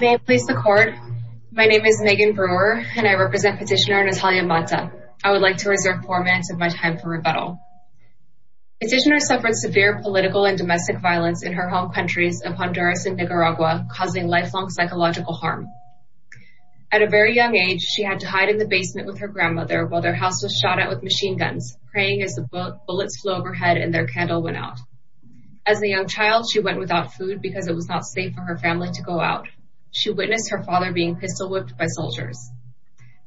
May it please the court, my name is Megan Brewer and I represent petitioner Nathalia Mata. I would like to reserve four minutes of my time for rebuttal. Petitioner suffered severe political and domestic violence in her home countries of Honduras and Nicaragua causing lifelong psychological harm. At a very young age she had to hide in the basement with her grandmother while their house was shot at with machine guns, praying as the bullets flew overhead and their candle went out. As a young child she went without food because it was not safe for her family to go out. She witnessed her father being pistol whipped by soldiers.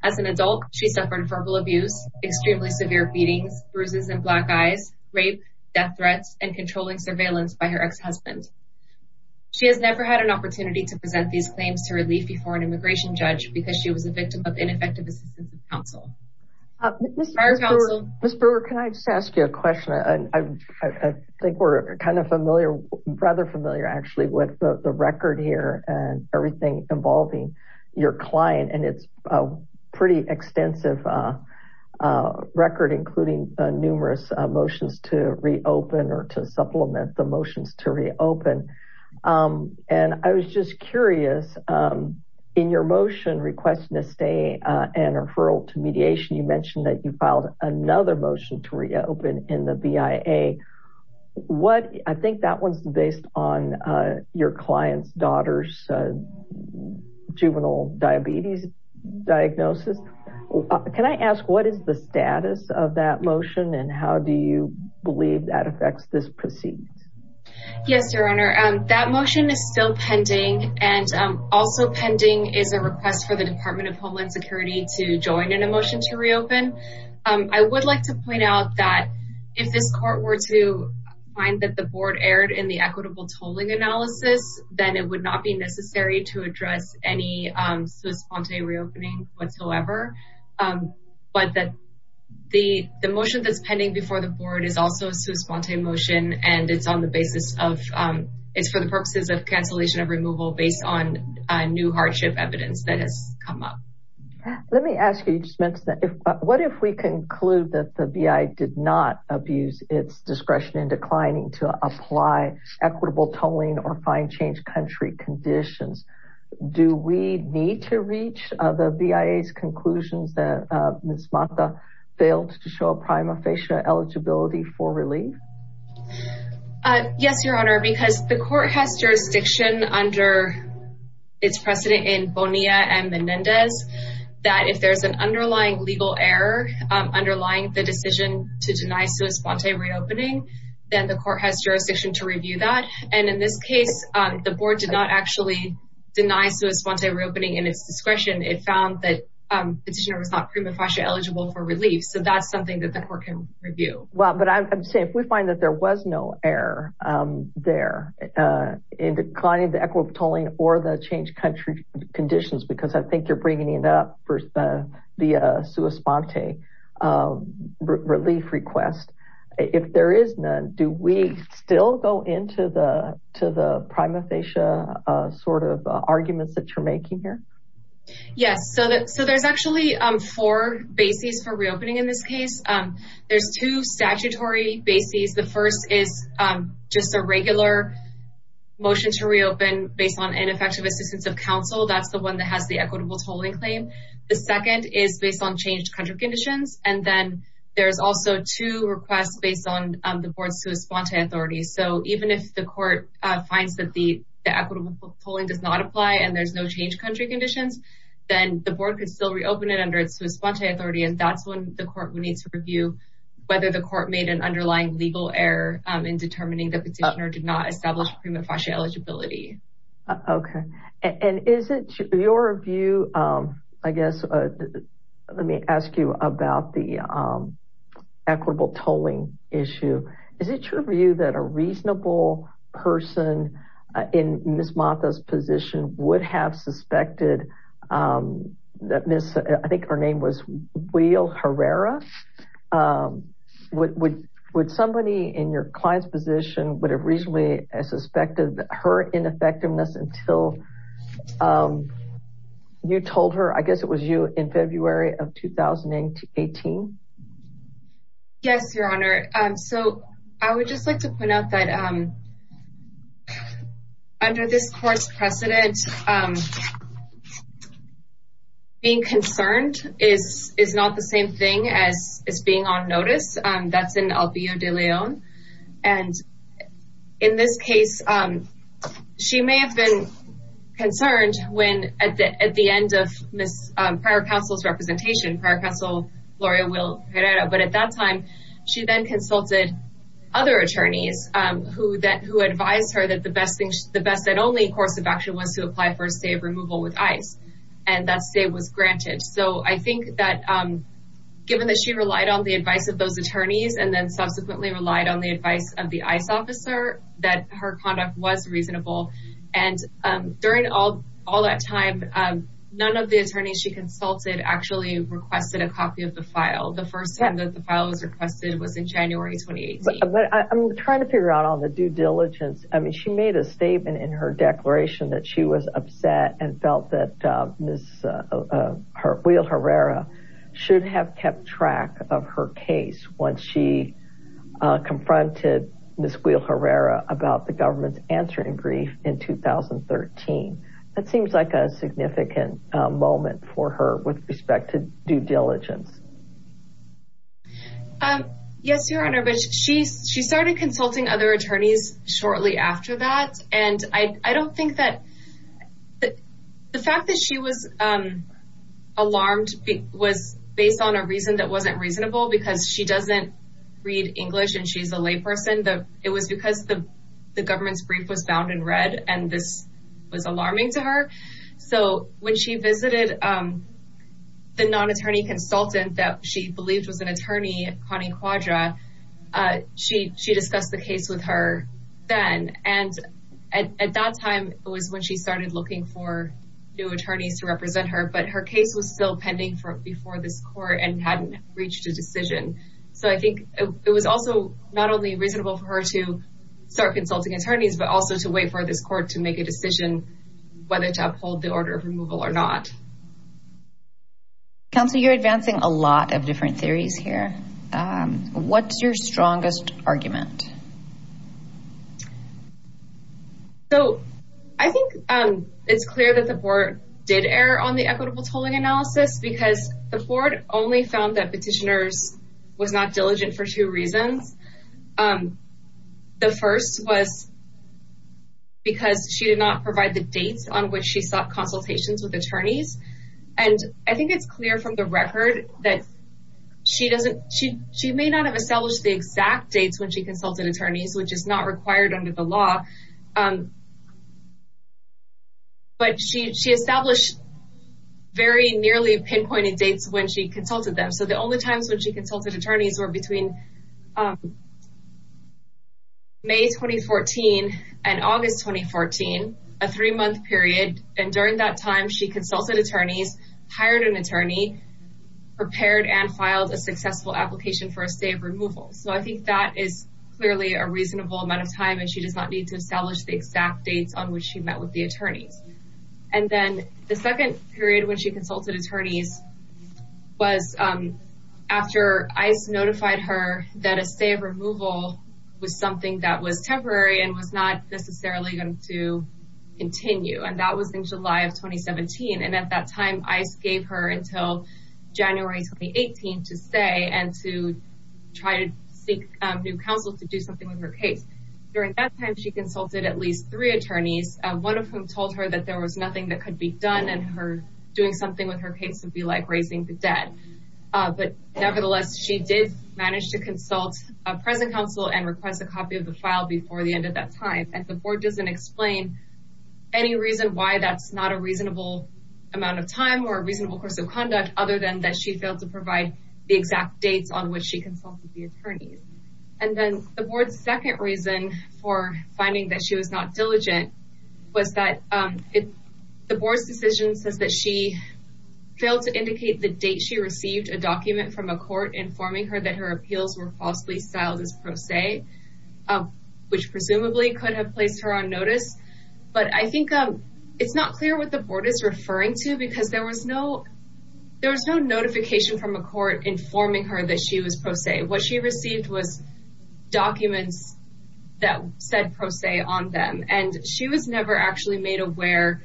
As an adult she suffered verbal abuse, extremely severe beatings, bruises in black eyes, rape, death threats, and controlling surveillance by her ex-husband. She has never had an opportunity to present these claims to relief before an immigration judge because she was a victim of ineffective assistance of counsel. Ms. Brewer, can I just ask you a question? I think we're kind of familiar, rather familiar actually, with the record here and everything involving your client and it's a pretty extensive record including numerous motions to reopen or to supplement the motions to reopen. I was just curious, in your motion requesting a stay and referral to mediation you mentioned that you filed another motion to reopen in the BIA. I think that one's based on your client's daughter's juvenile diabetes diagnosis. Can I ask what is the status of that motion and how do you believe that affects this proceeding? Yes, your honor. That motion is still pending and also I would like to point out that if this court were to find that the board erred in the equitable tolling analysis, then it would not be necessary to address any sui sponte reopening whatsoever, but that the motion that's pending before the board is also a sui sponte motion and it's on the basis of, it's for the purposes of cancellation of removal based on new hardship evidence that has come up. Let me ask you, you just mentioned that, what if we conclude that the BIA did not abuse its discretion in declining to apply equitable tolling or fine change country conditions? Do we need to reach the BIA's conclusions that Ms. Mata failed to show a prima facie eligibility for relief? Yes, your honor, because the court has jurisdiction under its precedent in Bonilla and Menendez that if there's an underlying legal error underlying the decision to deny sui sponte reopening, then the court has jurisdiction to review that and in this case the board did not actually deny sui sponte reopening in its discretion. It found that the petitioner was not prima facie eligible for relief, so that's something that the court can review. Well, but I'm saying if we find that there was no error there in declining the equitable tolling or the change country conditions, because I think you're bringing it up for the sui sponte relief request, if there is none, do we still go into the prima facie sort of arguments that you're making here? Yes, so there's actually four bases for reopening in this case. There's two statutory bases. The is just a regular motion to reopen based on ineffective assistance of counsel. That's the one that has the equitable tolling claim. The second is based on changed country conditions and then there's also two requests based on the board's sui sponte authority. So even if the court finds that the equitable tolling does not apply and there's no change country conditions, then the board could still reopen it under its sui sponte authority and that's when the court needs to review whether the court made an underlying legal error in determining the petitioner did not establish prima facie eligibility. Okay, and is it your view, I guess, let me ask you about the equitable tolling issue. Is it true for you that a reasonable person in Ms. Martha's position would have suspected that Ms., I think her name was Will Herrera, would somebody in your client's position would have reasonably suspected her ineffectiveness until you told her, I guess it was you, in February of 2018? Yes, Your Honor. So I would just like to point out that under this court's precedent, being concerned is not the same thing as being on notice. That's in El Vio de Leon. And in this case, she may have been concerned when at the end of prior counsel's representation, Gloria Will Herrera, but at that time, she then consulted other attorneys who advised her that the best and only course of action was to apply for a stay of removal with ICE and that stay was granted. So I think that given that she relied on the advice of those attorneys and then subsequently relied on the advice of the ICE officer, that her conduct was reasonable. And during all that time, none of the attorneys she consulted actually requested a copy of the file. The first time that the file was requested was in January 2018. But I'm trying to figure out on the due diligence. I mean, she made a statement in her declaration that she was upset and felt that Ms. Will Herrera should have kept track of her case once she confronted Ms. Will Herrera about the government's answer in grief in 2013. That seems like a significant moment for her with respect to due diligence. Yes, Your Honor, but she started consulting other attorneys shortly after that. And I don't think that the fact that she was alarmed was based on a reason that wasn't reasonable because she doesn't read English and she's a lay person. It was because the government's brief was found in red and this was alarming to her. So when she visited the non-attorney consultant that she believed was an attorney, Connie Quadra, she discussed the case with her then. And at that time, it was when she started looking for new attorneys to represent her, but her case was still pending before this court and hadn't reached a decision. So I think it was also not only reasonable for her to start consulting attorneys, but also to wait for this court to make a decision whether to uphold the order of removal or not. Counsel, you're advancing a lot of different theories here. What's your strongest argument? So I think it's clear that the board did err on the equitable tolling analysis because the board only found that petitioners was not diligent for two reasons. The first was because she did not provide the dates on which she sought consultations with attorneys. And I think it's clear from the record that she may not have established the exact dates when she consulted attorneys, which is not required under the law. But she established very nearly pinpointed dates when she consulted them. So the only times when she consulted attorneys were between May 2014 and August 2014, a three-month period. And during that time, she consulted attorneys, hired an attorney, prepared and filed a successful application for a stay of removal. So I think that is clearly a reasonable amount of time and she does not need to establish the exact dates on which she met with the attorneys. And then the second period when she consulted attorneys was after ICE notified her that a stay of removal was something that was temporary and was not necessarily going to continue. And that was in July of 2017. And at that time, ICE gave her until January 2018 to stay and to try to seek new counsel to do her case. During that time, she consulted at least three attorneys, one of whom told her that there was nothing that could be done and her doing something with her case would be like raising the debt. But nevertheless, she did manage to consult a present counsel and request a copy of the file before the end of that time. And the board doesn't explain any reason why that's not a reasonable amount of time or a reasonable course of conduct other than that she failed to provide the exact dates on which she consulted the attorneys. And then the board's second reason for finding that she was not diligent was that the board's decision says that she failed to indicate the date she received a document from a court informing her that her appeals were falsely styled as pro se, which presumably could have placed her on notice. But I think it's not clear what the board is referring to because there was no notification from a court informing her that she was pro se. What she received was documents that said pro se on them. And she was never actually made aware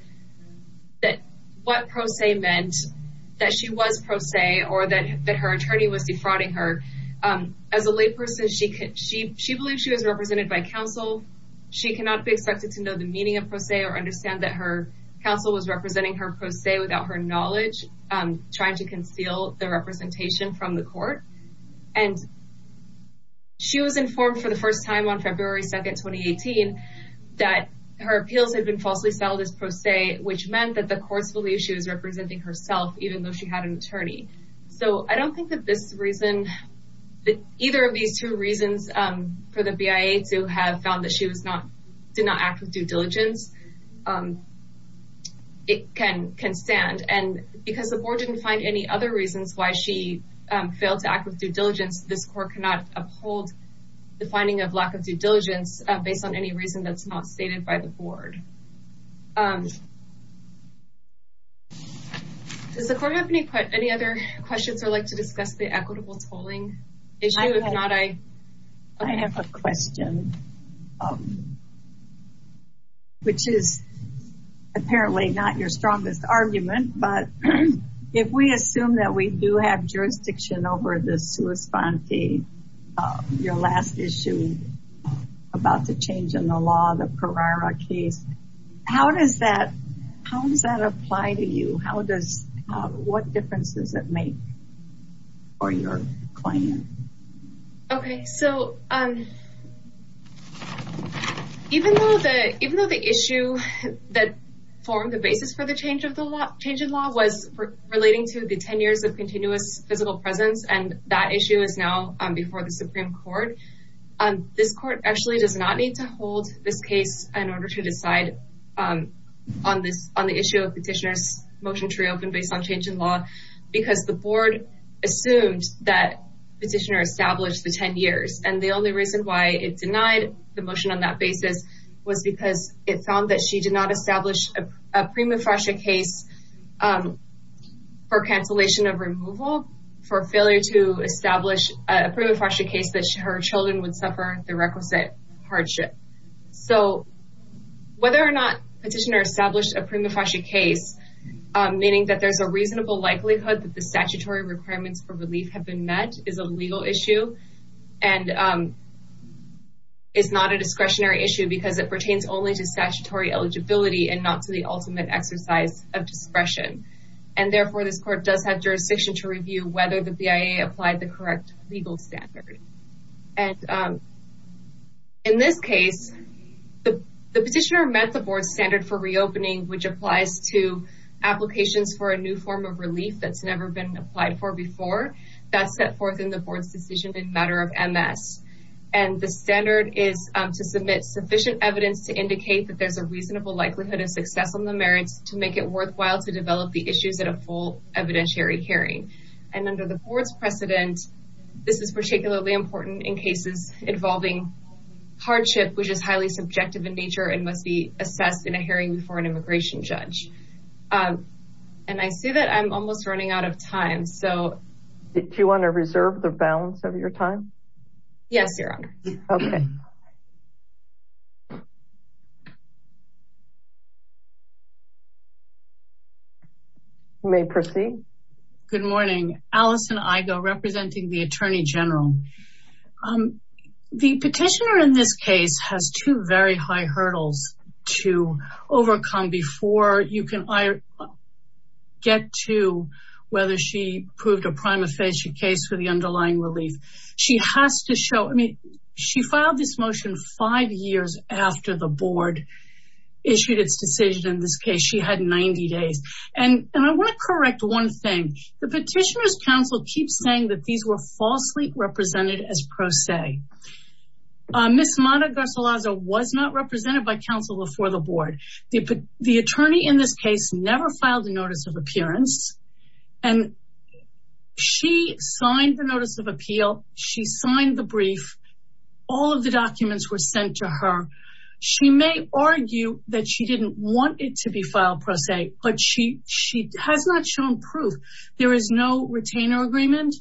that what pro se meant, that she was pro se or that her attorney was defrauding her. As a lay person, she believes she was represented by counsel. She cannot be expected to know the meaning of pro se or understand that her counsel was from the court. And she was informed for the first time on February 2nd, 2018, that her appeals had been falsely styled as pro se, which meant that the courts believe she was representing herself, even though she had an attorney. So I don't think that this reason, that either of these two reasons for the BIA to have found that she did not act with due diligence, it can stand. And because the board didn't find any other reasons why she failed to act with due diligence, this court cannot uphold the finding of lack of due diligence based on any reason that's not stated by the board. Does the court have any other questions or like to discuss the equitable tolling issue? I have a question, which is apparently not your strongest argument. But if we assume that we do have jurisdiction over the sua sponte, your last issue about the change in the law, the Parara case, how does that, how does that apply to you? How does, what difference does it make for your claim? Okay. So even though the issue that formed the basis for the change in law was relating to the 10 years of continuous physical presence, and that issue is now before the Supreme Court, this court actually does not need to hold this case in order to decide on the issue of petitioner's motion to reopen based on change in law, because the board assumed that petitioner established the 10 years. And the only reason why it denied the motion on that basis was because it found that she did not establish a prima facie case for cancellation of removal, for failure to establish a prima facie case that her children would suffer the requisite hardship. So whether or not petitioner established a prima facie case, meaning that there's a reasonable likelihood that statutory requirements for relief have been met, is a legal issue and is not a discretionary issue because it pertains only to statutory eligibility and not to the ultimate exercise of discretion. And therefore, this court does have jurisdiction to review whether the BIA applied the correct legal standard. And in this case, the petitioner met the board's standard for reopening, which before that set forth in the board's decision in matter of MS. And the standard is to submit sufficient evidence to indicate that there's a reasonable likelihood of success on the merits to make it worthwhile to develop the issues at a full evidentiary hearing. And under the board's precedent, this is particularly important in cases involving hardship, which is highly subjective in nature and must be assessed in a hearing before an immigration judge. And I see that I'm almost running out of time, so... Do you want to reserve the balance of your time? Yes, Your Honor. Okay. You may proceed. Good morning. Alison Igoe, representing the Attorney General. The petitioner in this case has two very high hurdles to overcome before you can get to whether she proved a prima facie case for the underlying relief. She has to show, I mean, she filed this motion five years after the board issued its decision in this case. She had 90 days. And I want to correct one thing. The petitioner's counsel keeps saying that these were falsely represented as pro se. Ms. Mata Garcilaza was not represented by counsel before the board. The attorney in this case never filed a notice of appearance. And she signed the notice of appeal. She signed the brief. All of the documents were sent to her. She may argue that she didn't want it to be filed pro se, but she has not shown proof. There is no retainer agreement.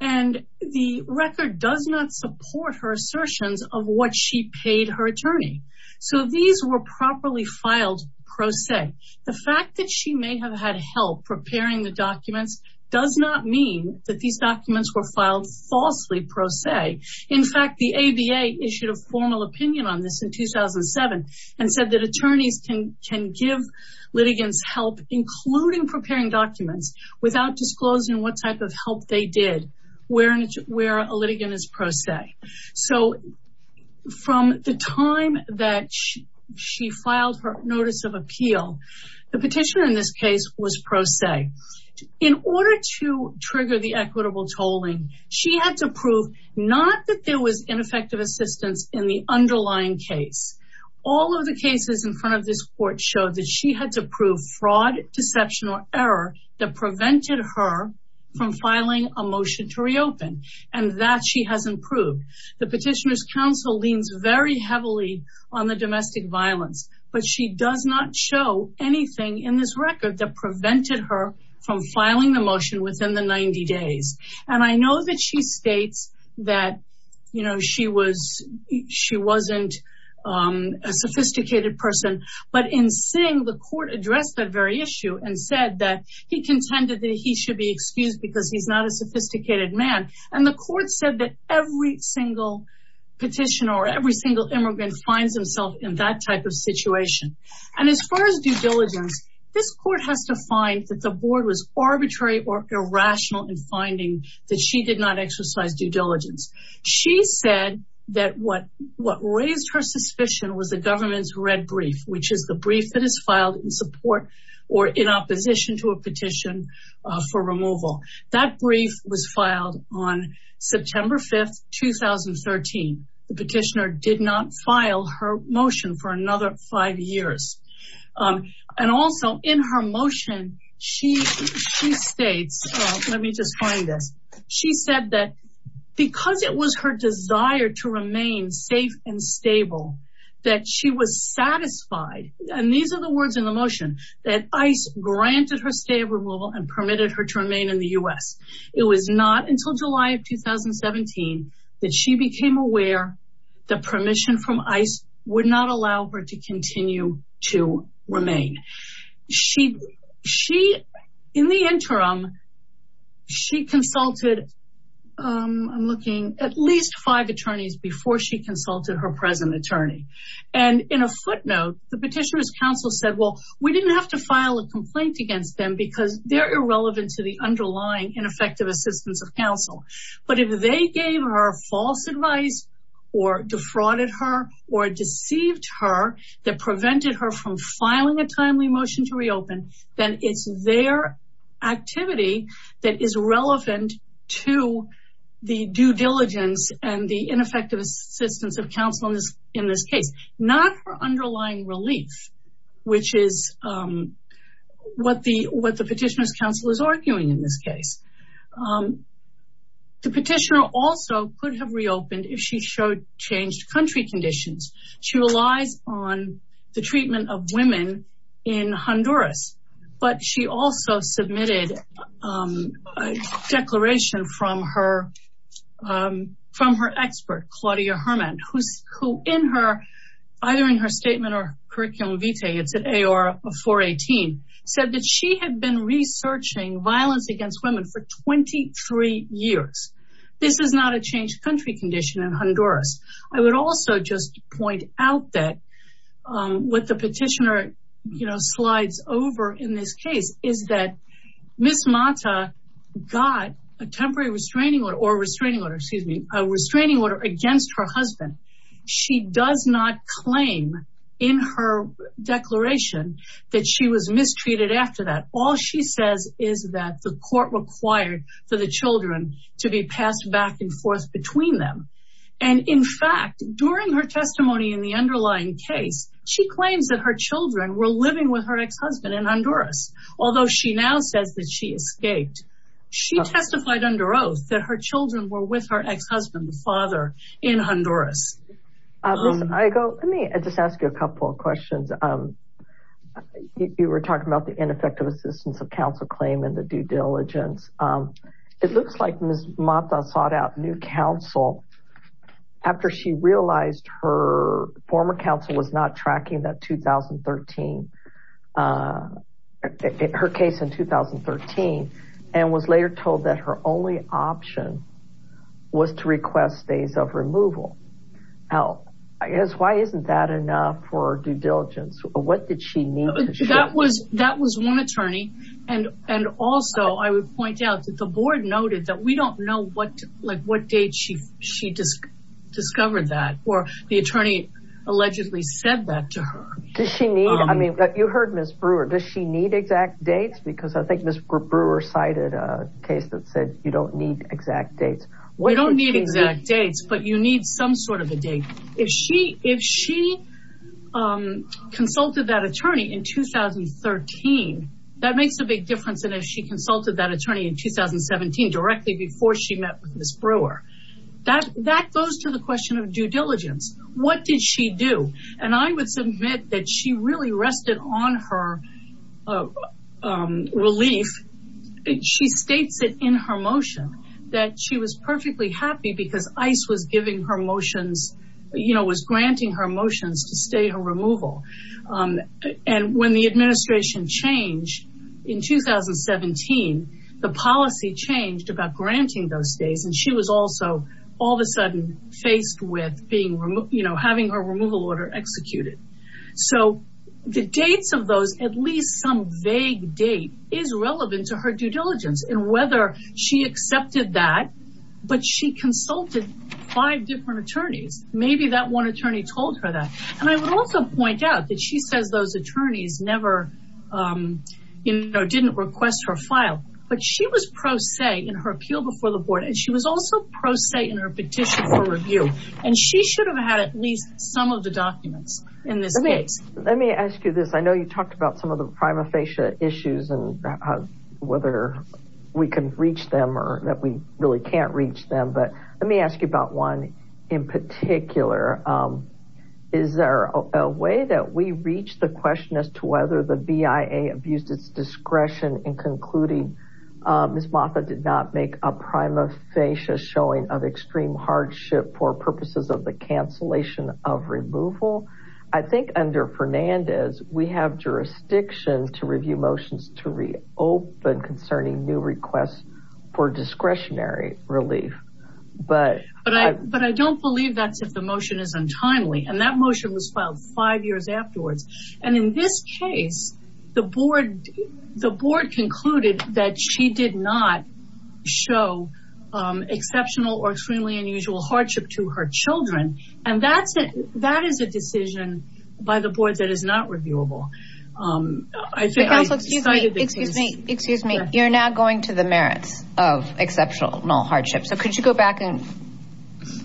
And the record does not support her assertions of what she paid her attorney. So these were properly filed pro se. The fact that she may have had help preparing the documents does not mean that these documents were filed falsely pro se. In fact, the ABA issued a formal opinion on this in 2007 and said that attorneys can give litigants help, including preparing documents, without disclosing what type of help they did, where a litigant is pro se. So from the time that she filed her notice of appeal, the petitioner in this case was pro se. In order to trigger the equitable tolling, she had to prove not that there was ineffective assistance in the underlying case. All of the cases in front of this court showed that she had to prove fraud, deception, or error that motion to reopen. And that she has improved. The petitioner's counsel leans very heavily on the domestic violence, but she does not show anything in this record that prevented her from filing the motion within the 90 days. And I know that she states that she wasn't a sophisticated person, but in saying the court addressed that very issue and said that he contended that he should be excused because he's not a sophisticated man. And the court said that every single petitioner or every single immigrant finds himself in that type of situation. And as far as due diligence, this court has to find that the board was arbitrary or irrational in finding that she did not exercise due diligence. She said that what raised her suspicion was the government's red brief, which is the brief that is filed in support or in petition for removal. That brief was filed on September 5th, 2013. The petitioner did not file her motion for another five years. And also in her motion, she states, let me just find this. She said that because it was her desire to remain safe and stable, that she was satisfied, and these are the words in the motion, that ICE granted her stay of removal and permitted her to remain in the U.S. It was not until July of 2017 that she became aware that permission from ICE would not allow her to continue to remain. In the interim, she consulted, I'm looking, at least five attorneys before she consulted her present attorney. And in a footnote, the petitioner's counsel said, well, we didn't have to file a complaint against them because they're irrelevant to the underlying ineffective assistance of counsel. But if they gave her false advice or defrauded her or deceived her that prevented her from filing a timely motion to reopen, then it's their activity that is relevant to the due diligence and the ineffective assistance of counsel in this case, not her underlying relief, which is what the petitioner's counsel is arguing in this case. The petitioner also could have reopened if she showed changed country conditions. She relies on the treatment of women in Honduras, but she also submitted a declaration from her expert, Claudia Herman, who either in her statement or curriculum vitae, it's at AR 418, said that she had been researching violence against women for 23 years. This is not a changed country condition in Honduras. I would also just point out that what the petitioner slides over in this case is that Ms. Mata got a temporary restraining order or restraining order, excuse me, a restraining order against her husband. She does not claim in her declaration that she was mistreated after that. All she says is that the court required for the children to be passed back and forth between them. And in fact, during her testimony in the underlying case, she claims that her children were living with her ex-husband in Honduras. Although she now says that she escaped, she testified under oath that her children were with her ex-husband, the father in Honduras. Let me just ask you a couple of questions. You were talking about the ineffective assistance of counsel claim and the due diligence. It looks like Ms. Mata sought out new counsel after she realized her former counsel was not tracking her case in 2013 and was later told that her only option was to request days of removal. Why isn't that enough for due diligence? What did she need? That was one attorney and also I would point out that the board noted that we discovered that or the attorney allegedly said that to her. Did she need, I mean, you heard Ms. Brewer, does she need exact dates? Because I think Ms. Brewer cited a case that said you don't need exact dates. We don't need exact dates, but you need some sort of a date. If she consulted that attorney in 2013, that makes a big difference. And if she consulted that attorney in 2017, directly before she met Ms. Brewer, that goes to the question of due diligence. What did she do? And I would submit that she really rested on her relief. She states it in her motion that she was perfectly happy because ICE was giving her motions, you know, was granting her motions to stay her removal. And when the administration changed in 2017, the policy changed about granting those days. And she was also all of a sudden faced with being, you know, having her removal order executed. So the dates of those, at least some vague date is relevant to her due diligence and whether she accepted that, but she consulted five different attorneys. Maybe that one attorney told her that. And I would also point out that she says those attorneys never, you know, didn't request her file, but she was pro se in her appeal before the board. And she was also pro se in her petition for review. And she should have had at least some of the documents in this case. Let me ask you this. I know you talked about some of the prima facie issues and whether we can reach them or that we really can't reach them. But let me ask you about one in particular. Is there a way that we reach the question as to whether the BIA abused its discretion in concluding Ms. Motha did not make a prima facie showing of extreme hardship for purposes of the cancellation of removal? I think under Fernandez, we have jurisdiction to review motions to reopen concerning new requests for discretionary relief. But I don't believe that's if the motion is untimely. And that motion was filed five years afterwards. And in this case, the board concluded that she did not show exceptional or extremely unusual hardship to her children. And that is a decision by the board that is not reviewable. Excuse me. You're now going to the merits of exceptional hardship. So could you go back and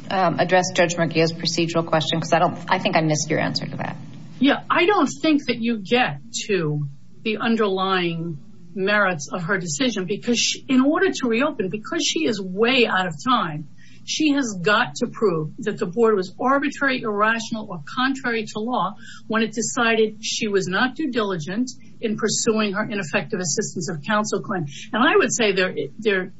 address Judge Murguia's procedural question? Because I don't I think I missed your answer to that. Yeah, I don't think that you get to the underlying merits of her decision. Because in order to reopen, because she is way out of time, she has got to prove that the board was when it decided she was not due diligent in pursuing her ineffective assistance of counsel. And I would say that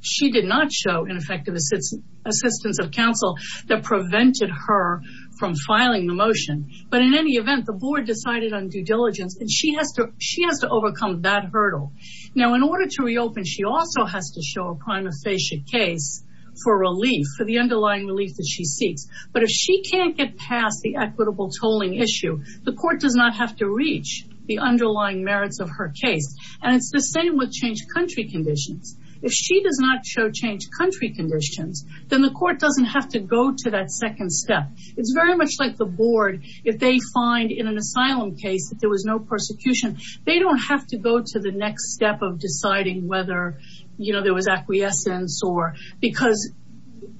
she did not show ineffective assistance of counsel that prevented her from filing the motion. But in any event, the board decided on due diligence and she has to overcome that hurdle. Now, in order to reopen, she also has to show a prima facie case for relief for underlying relief that she seeks. But if she can't get past the equitable tolling issue, the court does not have to reach the underlying merits of her case. And it's the same with changed country conditions. If she does not show changed country conditions, then the court doesn't have to go to that second step. It's very much like the board. If they find in an asylum case that there was no persecution, they don't have to go to the next step of deciding whether there was acquiescence or because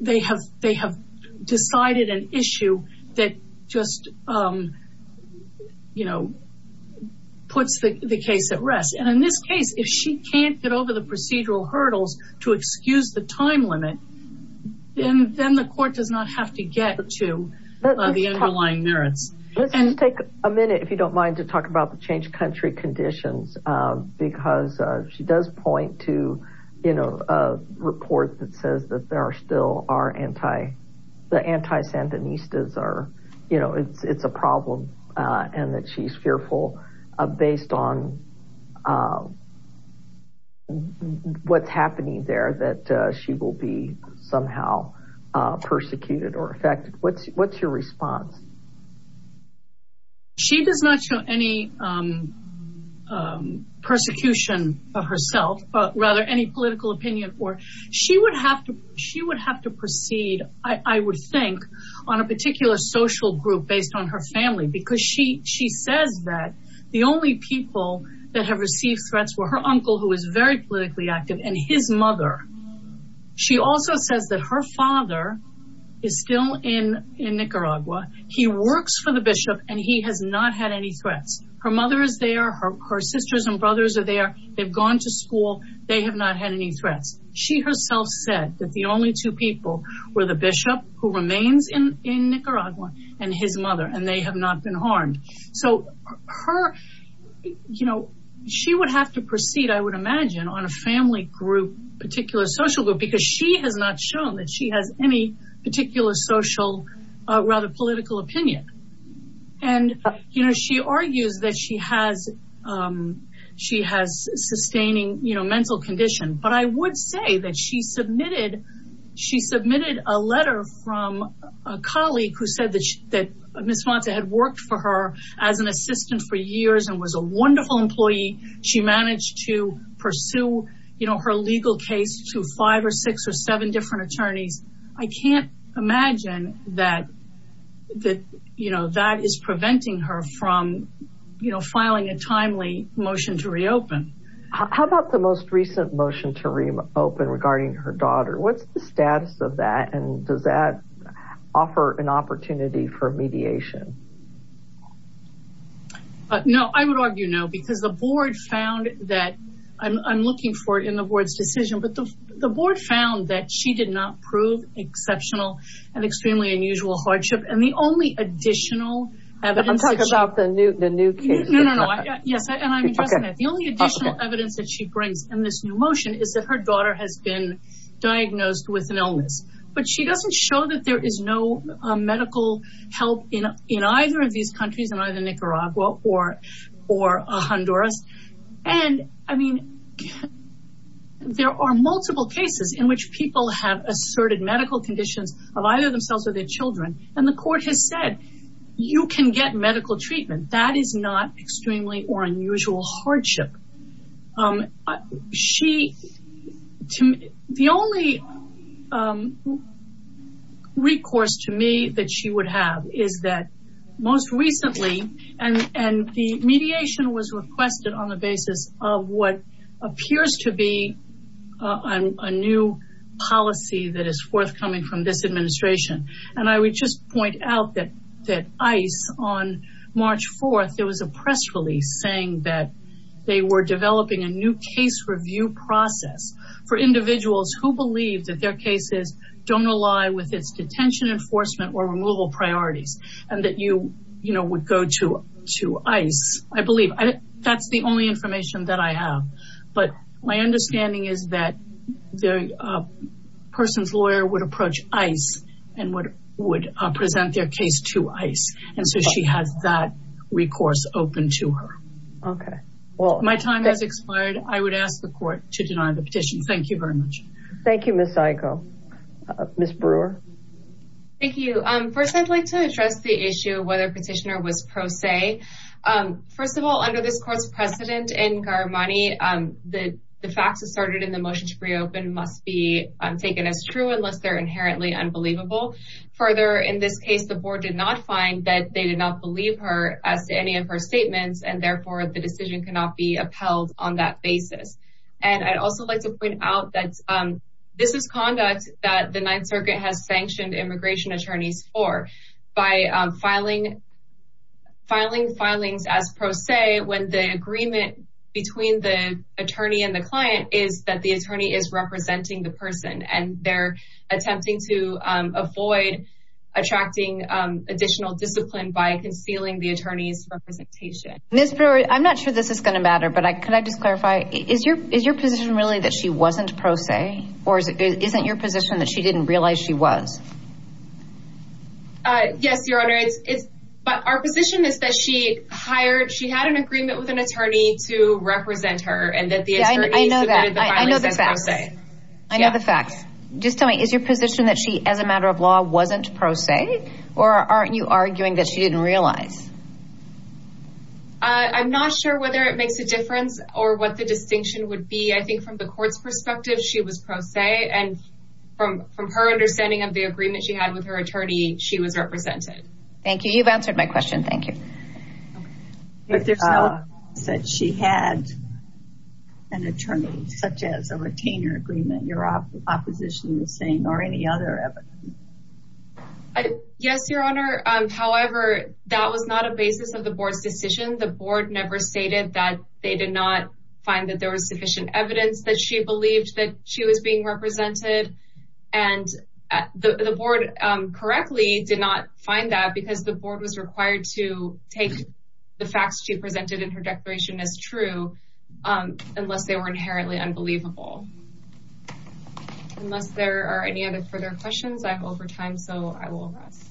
they have decided an issue that just puts the case at rest. And in this case, if she can't get over the procedural hurdles to excuse the time limit, then the court does not have to get to the underlying merits. Let's take a minute, if you don't mind, to talk about the country conditions because she does point to, you know, a report that says that there are still the anti-Sandinistas are, you know, it's a problem and that she's fearful based on what's happening there that she will be somehow persecuted or affected. What's your response? She does not show any persecution of herself, but rather any political opinion. She would have to proceed, I would think, on a particular social group based on her family because she says that the only people that have received threats were her uncle, who is very politically active, and his mother. She also says that her father is still in Nicaragua, he works for the bishop, and he has not had any threats. Her mother is there, her sisters and brothers are there, they've gone to school, they have not had any threats. She herself said that the only two people were the bishop, who remains in Nicaragua, and his mother, and they have not been harmed. So, you know, she would have to proceed, I would imagine, on a family group, particular social group, because she has not shown that she has any particular social, rather political opinion. And, you know, she argues that she has sustaining, you know, mental condition, but I would say that she submitted a letter from a colleague who said that Ms. Monsa had worked for her as an assistant for years and was a wonderful employee. She managed to pursue, you know, her legal case to five or six or seven different attorneys. I can't imagine that, you know, that is preventing her from, you know, filing a timely motion to reopen. How about the most recent motion to reopen regarding her daughter? What's the status of that, and does that offer an opportunity for mediation? No, I would argue no, because the board found that, I'm looking for it in the board's decision, but the board found that she did not prove exceptional and extremely unusual hardship. And the only additional evidence... I'm talking about the new case. No, no, no, yes, and I'm addressing that. The only additional evidence that she brings in this motion is that her daughter has been diagnosed with an illness, but she doesn't show that there is no medical help in either of these countries, in either Nicaragua or Honduras. And, I mean, there are multiple cases in which people have asserted medical conditions of either themselves or their children, and the court has said, you can get medical treatment. That is not extremely or unusual hardship. The only recourse to me that she would have is that most recently, and the mediation was requested on the basis of what appears to be a new policy that is forthcoming from this administration. And I would just point out that ICE, on March 4th, there was a press release saying that they were developing a new case review process for individuals who believe that their cases don't rely with its detention enforcement or removal priorities, and that you would go to ICE, I believe. That's the only information that I have. But my understanding is that the person's lawyer would approach ICE and would present their case to ICE. And so she has that recourse open to her. Okay. Well, my time has expired. I would ask the court to deny the petition. Thank you very much. Thank you, Ms. Saico. Ms. Brewer? Thank you. First, I'd like to address the issue of whether the petitioner was pro se. First of all, under this court's precedent in Garamani, the facts asserted in the motion to reopen must be taken as true unless they're inherently unbelievable. Further, in this case, the board did not find that they did not believe her as to any of her statements, and therefore the decision cannot be upheld on that basis. And I'd also like to point out that this is conduct that the Ninth Circuit has sanctioned attorneys for by filing filings as pro se when the agreement between the attorney and the client is that the attorney is representing the person, and they're attempting to avoid attracting additional discipline by concealing the attorney's representation. Ms. Brewer, I'm not sure this is going to matter, but could I just clarify, is your position really that she wasn't pro se, or isn't your position that she didn't realize she was? Yes, Your Honor, but our position is that she hired, she had an agreement with an attorney to represent her, and that the attorney submitted the filing as pro se. I know the facts. Just tell me, is your position that she, as a matter of law, wasn't pro se, or aren't you arguing that she didn't realize? I'm not sure whether it makes a difference or what the distinction would be. I believe that she was pro se, and from her understanding of the agreement she had with her attorney, she was represented. Thank you. You've answered my question. Thank you. If there's no evidence that she had an attorney, such as a retainer agreement, your opposition is saying, or any other evidence? Yes, Your Honor. However, that was not a basis of the board's decision. The board never stated that they did not find that there was sufficient evidence that she believed that she was being represented, and the board correctly did not find that, because the board was required to take the facts she presented in her declaration as true, unless they were inherently unbelievable. Unless there are any other further questions, I'm over time, so I will rest.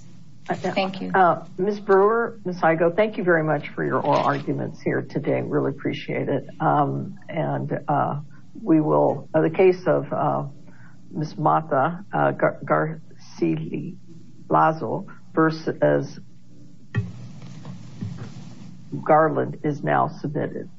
Thank you. Ms. Brewer, Ms. Igoe, thank you very much for your arguments here today. I really appreciate it. The case of Ms. Mata Garcila versus Garland is now submitted.